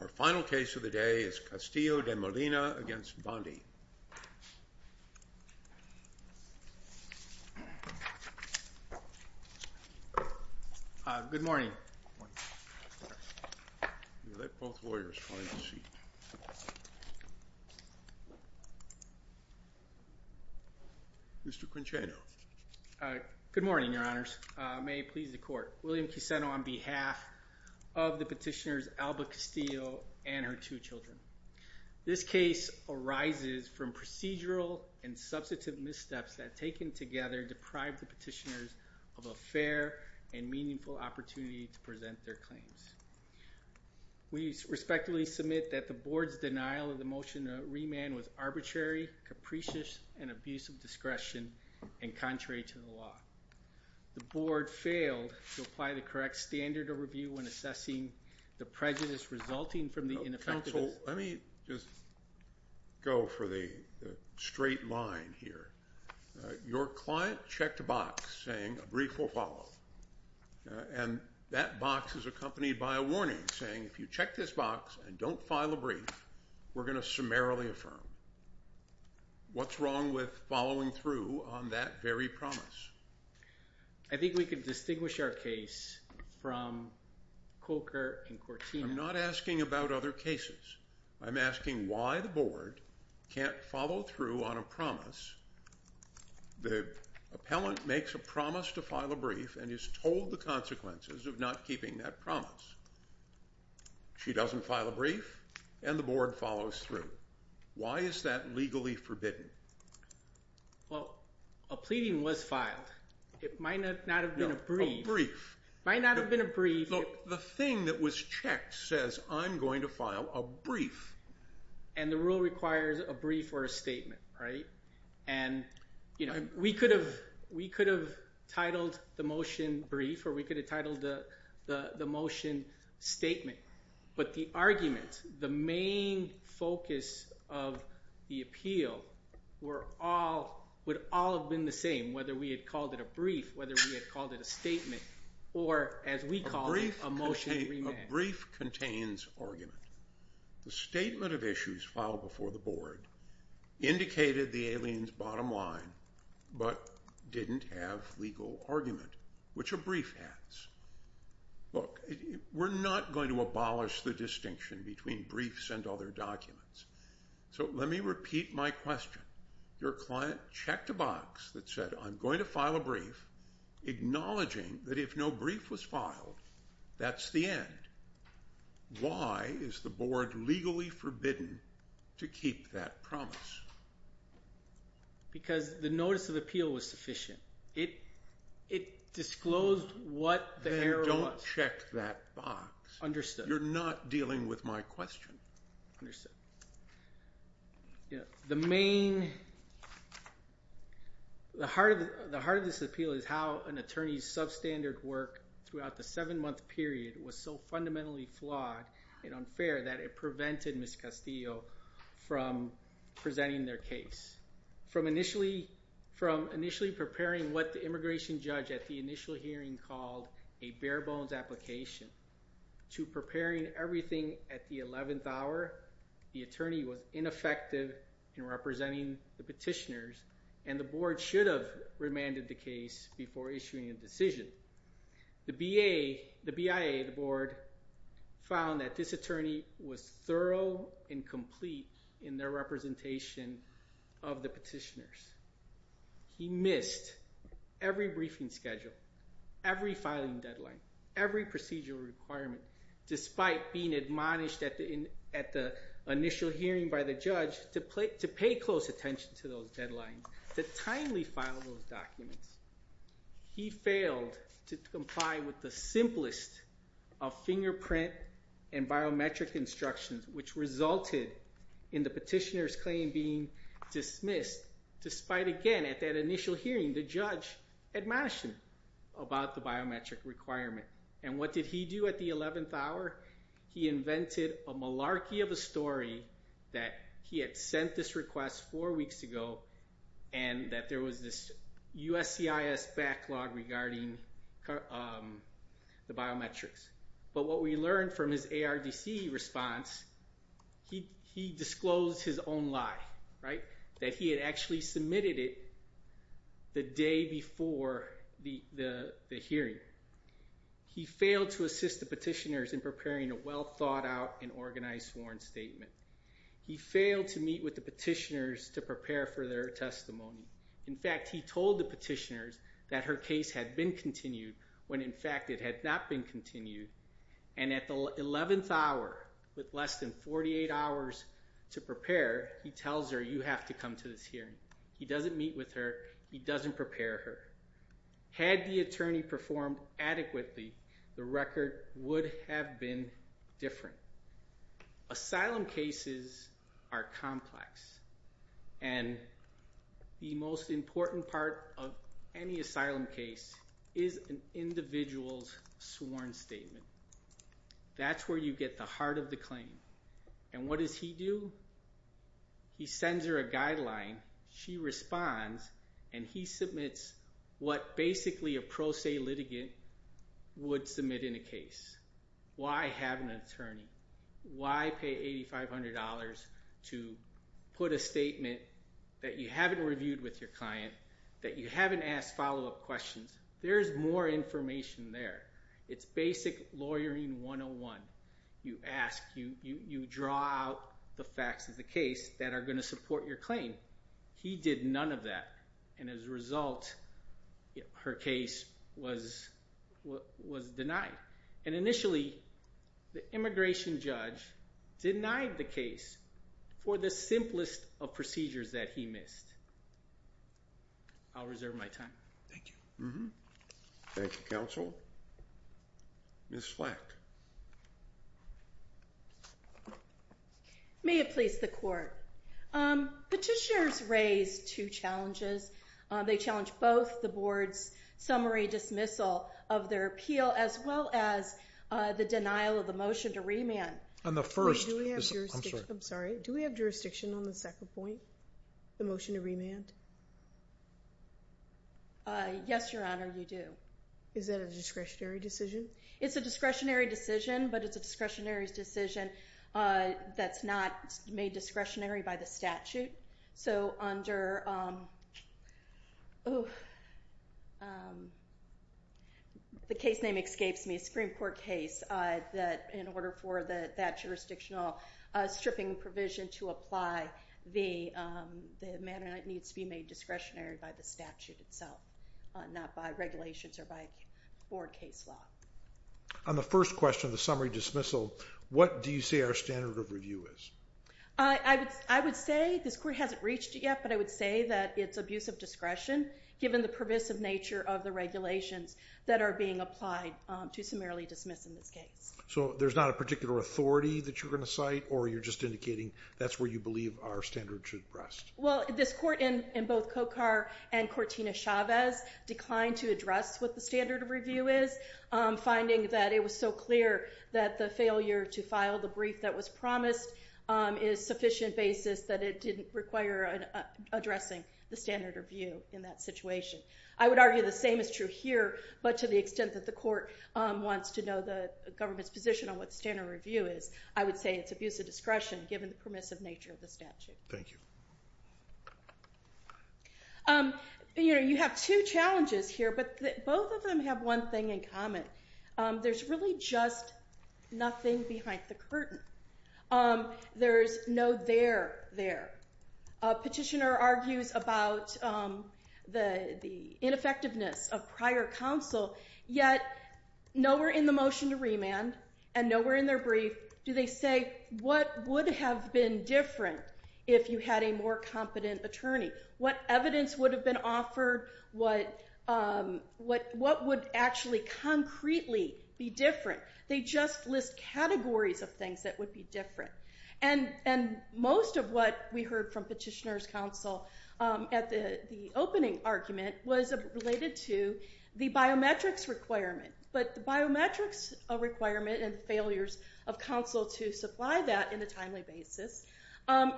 Our final case of the day is Castillo-De Molina v. Bondi. Good morning. Let both lawyers find a seat. Mr. Quincheno. Good morning, your honors. May it please the court. William Quinceno on behalf of the petitioners Alba Castillo and her two children. This case arises from procedural and substantive missteps that taken together deprive the petitioners of a fair and meaningful opportunity to present their claims. We respectfully submit that the board's denial of the motion to remand was arbitrary, capricious, and abuse of discretion and contrary to the law. The board failed to apply the correct standard of review when assessing the prejudice resulting from the ineffectiveness... Counsel, let me just go for the straight line here. Your client checked a box saying a brief will follow. And that box is accompanied by a warning saying if you check this box and don't file a brief, we're going to summarily affirm. What's wrong with following through on that very promise? I think we can distinguish our case from Coker and Cortina. I'm not asking about other cases. I'm asking why the board can't follow through on a promise. The appellant makes a promise to file a brief and is told the consequences of not keeping that promise. She doesn't file a brief and the board follows through. Why is that legally forbidden? Well, a pleading was filed. It might not have been a brief. No, a brief. It might not have been a brief. Look, the thing that was checked says I'm going to file a brief. And the rule requires a brief or a statement, right? And, you know, we could have titled the motion brief or we could have titled the motion statement. But the argument, the main focus of the appeal would all have been the same, whether we had called it a brief, whether we had called it a statement, or as we call it, a motion to remand. A brief contains argument. The statement of issues filed before the board indicated the alien's bottom line but didn't have legal argument, which a brief has. Look, we're not going to abolish the distinction between briefs and other documents. So let me repeat my question. Your client checked a box that said I'm going to file a brief, acknowledging that if no brief was filed, that's the end. Why is the board legally forbidden to keep that promise? Because the notice of appeal was sufficient. It disclosed what the error was. Then don't check that box. Understood. You're not dealing with my question. Understood. The main, the heart of this appeal is how an attorney's substandard work throughout the seven-month period was so fundamentally flawed and unfair that it prevented Ms. Castillo from presenting their case. From initially preparing what the immigration judge at the initial hearing called a bare bones application to preparing everything at the 11th hour, the attorney was ineffective in representing the petitioners and the board should have remanded the case before issuing a decision. The BIA, the board, found that this attorney was thorough and complete in their representation of the petitioners. He missed every briefing schedule, every filing deadline, every procedural requirement despite being admonished at the initial hearing by the judge to pay close attention to those deadlines, to timely file those documents. He failed to comply with the simplest of fingerprint and biometric instructions which resulted in the petitioner's claim being dismissed despite, again, at that initial hearing, the judge admonishing about the biometric requirement. And what did he do at the 11th hour? He invented a malarkey of a story that he had sent this request four weeks ago and that there was this USCIS backlog regarding the biometrics. But what we learned from his ARDC response, he disclosed his own lie, right? That he had actually submitted it the day before the hearing. He failed to assist the petitioners in preparing a well thought out and organized sworn statement. He failed to meet with the petitioners to prepare for their testimony. In fact, he told the petitioners that her case had been continued when in fact it had not been continued. And at the 11th hour, with less than 48 hours to prepare, he tells her, you have to come to this hearing. He doesn't meet with her. He doesn't prepare her. Had the attorney performed adequately, the record would have been different. Asylum cases are complex. And the most important part of any asylum case is an individual's sworn statement. That's where you get the heart of the claim. And what does he do? He sends her a guideline. She responds and he submits what basically a pro se litigant would submit in a case. Why have an attorney? Why pay $8,500 to put a statement that you haven't reviewed with your client, that you haven't asked follow up questions? There's more information there. It's basic lawyering 101. You ask, you draw out the facts of the case that are going to support your claim. He did none of that. And as a result, her case was denied. And initially, the immigration judge denied the case for the simplest of procedures that he missed. I'll reserve my time. Thank you. Thank you, counsel. Ms. Flack. May it please the court. Petitioners raise two challenges. They challenge both the board's summary dismissal of their appeal as well as the denial of the motion to remand. I'm sorry. Do we have jurisdiction on the second point, the motion to remand? Yes, your honor, you do. Is that a discretionary decision? It's a discretionary decision, but it's a discretionary decision that's not made discretionary by the statute. So under the case name escapes me, Supreme Court case, in order for that jurisdictional stripping provision to apply, the matter needs to be made discretionary by the statute itself, not by regulations or by board case law. On the first question, the summary dismissal, what do you say our standard of review is? I would say this court hasn't reached it yet, but I would say that it's abuse of discretion given the pervasive nature of the regulations that are being applied to summarily dismiss in this case. So there's not a particular authority that you're going to cite or you're just indicating that's where you believe our standard should rest? Well, this court in both Cocar and Cortina Chavez declined to address what the standard of review is, finding that it was so clear that the failure to file the brief that was promised is sufficient basis that it didn't require addressing the standard of view in that situation. I would argue the same is true here, but to the extent that the court wants to know the government's position on what standard review is, I would say it's abuse of discretion given the permissive nature of the statute. Thank you. You have two challenges here, but both of them have one thing in common. There's really just nothing behind the curtain. There's no there there. A petitioner argues about the ineffectiveness of prior counsel, yet nowhere in the motion to remand and nowhere in their brief do they say what would have been different if you had a more competent attorney? What evidence would have been offered? What would actually concretely be different? They just list categories of things that would be different. And most of what we heard from petitioner's counsel at the opening argument was related to the biometrics requirement. But the biometrics requirement and the failures of counsel to supply that in a timely basis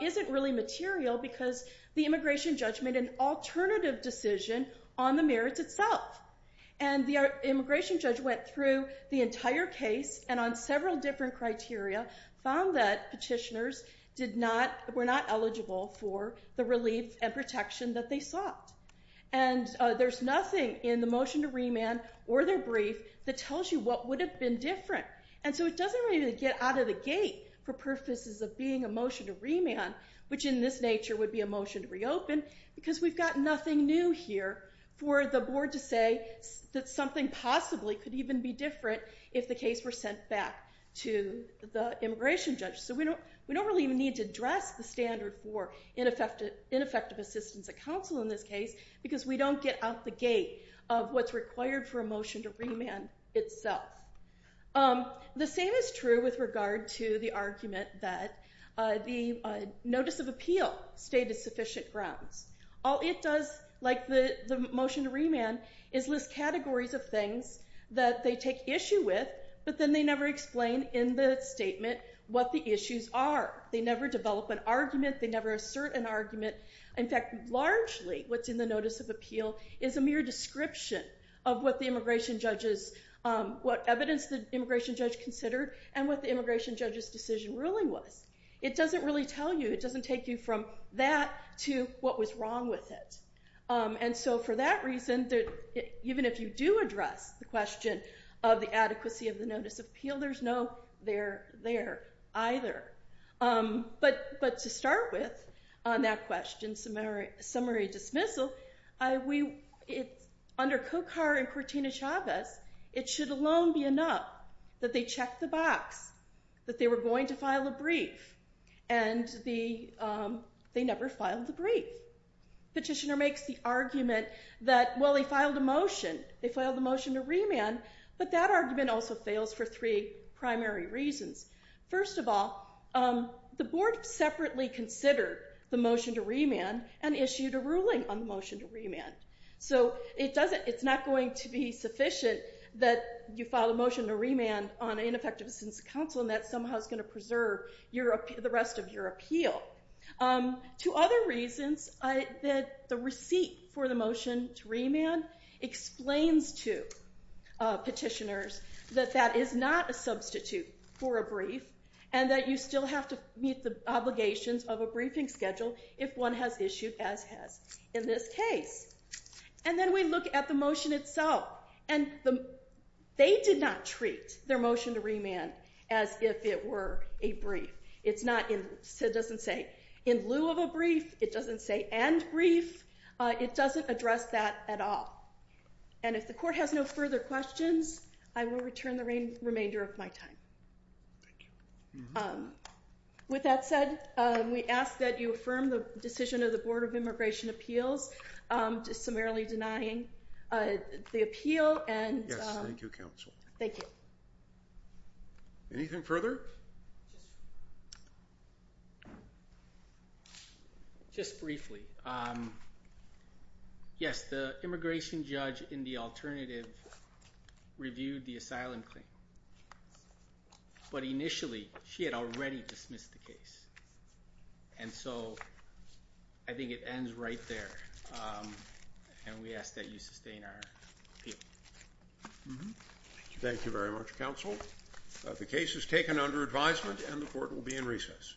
isn't really material because the immigration judge made an alternative decision on the merits itself. And the immigration judge went through the entire case and on several different criteria found that petitioners were not eligible for the relief and protection that they sought. And there's nothing in the motion to remand or their brief that tells you what would have been different. And so it doesn't really get out of the gate for purposes of being a motion to remand, which in this nature would be a motion to reopen, because we've got nothing new here for the board to say that something possibly could even be different if the case were sent back to the immigration judge. So we don't really even need to address the standard for ineffective assistance at counsel in this case because we don't get out the gate of what's required for a motion to remand itself. The same is true with regard to the argument that the notice of appeal stated sufficient grounds. All it does, like the motion to remand, is list categories of things that they take issue with, but then they never explain in the statement what the issues are. They never develop an argument. They never assert an argument. In fact, largely what's in the notice of appeal is a mere description of what the immigration judge is, what evidence the immigration judge considered, and what the immigration judge's decision ruling was. It doesn't really tell you. It doesn't take you from that to what was wrong with it. And so for that reason, even if you do address the question of the adequacy of the notice of appeal, there's no there, there, either. But to start with on that question, summary dismissal, under Cocar and Cortina Chavez, it should alone be enough that they check the box, that they were going to file a brief, and they never filed the brief. Petitioner makes the argument that, well, they filed a motion. They filed a motion to remand, but that argument also fails for three primary reasons. First of all, the board separately considered the motion to remand and issued a ruling on the motion to remand. So it's not going to be sufficient that you file a motion to remand on ineffective assistance of counsel, and that somehow is going to preserve the rest of your appeal. Two other reasons that the receipt for the motion to remand explains to petitioners that that is not a substitute for a brief, and that you still have to meet the obligations of a briefing schedule if one has issued as has. In this case, and then we look at the motion itself, and they did not treat their motion to remand as if it were a brief. It's not, it doesn't say in lieu of a brief. It doesn't say and brief. It doesn't address that at all. And if the court has no further questions, I will return the remainder of my time. With that said, we ask that you affirm the decision of the Board of Immigration Appeals, just summarily denying the appeal and- Yes, thank you, counsel. Thank you. Anything further? Just briefly. Yes, the immigration judge in the alternative reviewed the asylum claim. But initially, she had already dismissed the case. And so I think it ends right there. And we ask that you sustain our appeal. Thank you very much, counsel. The case is taken under advisement and the court will be in recess.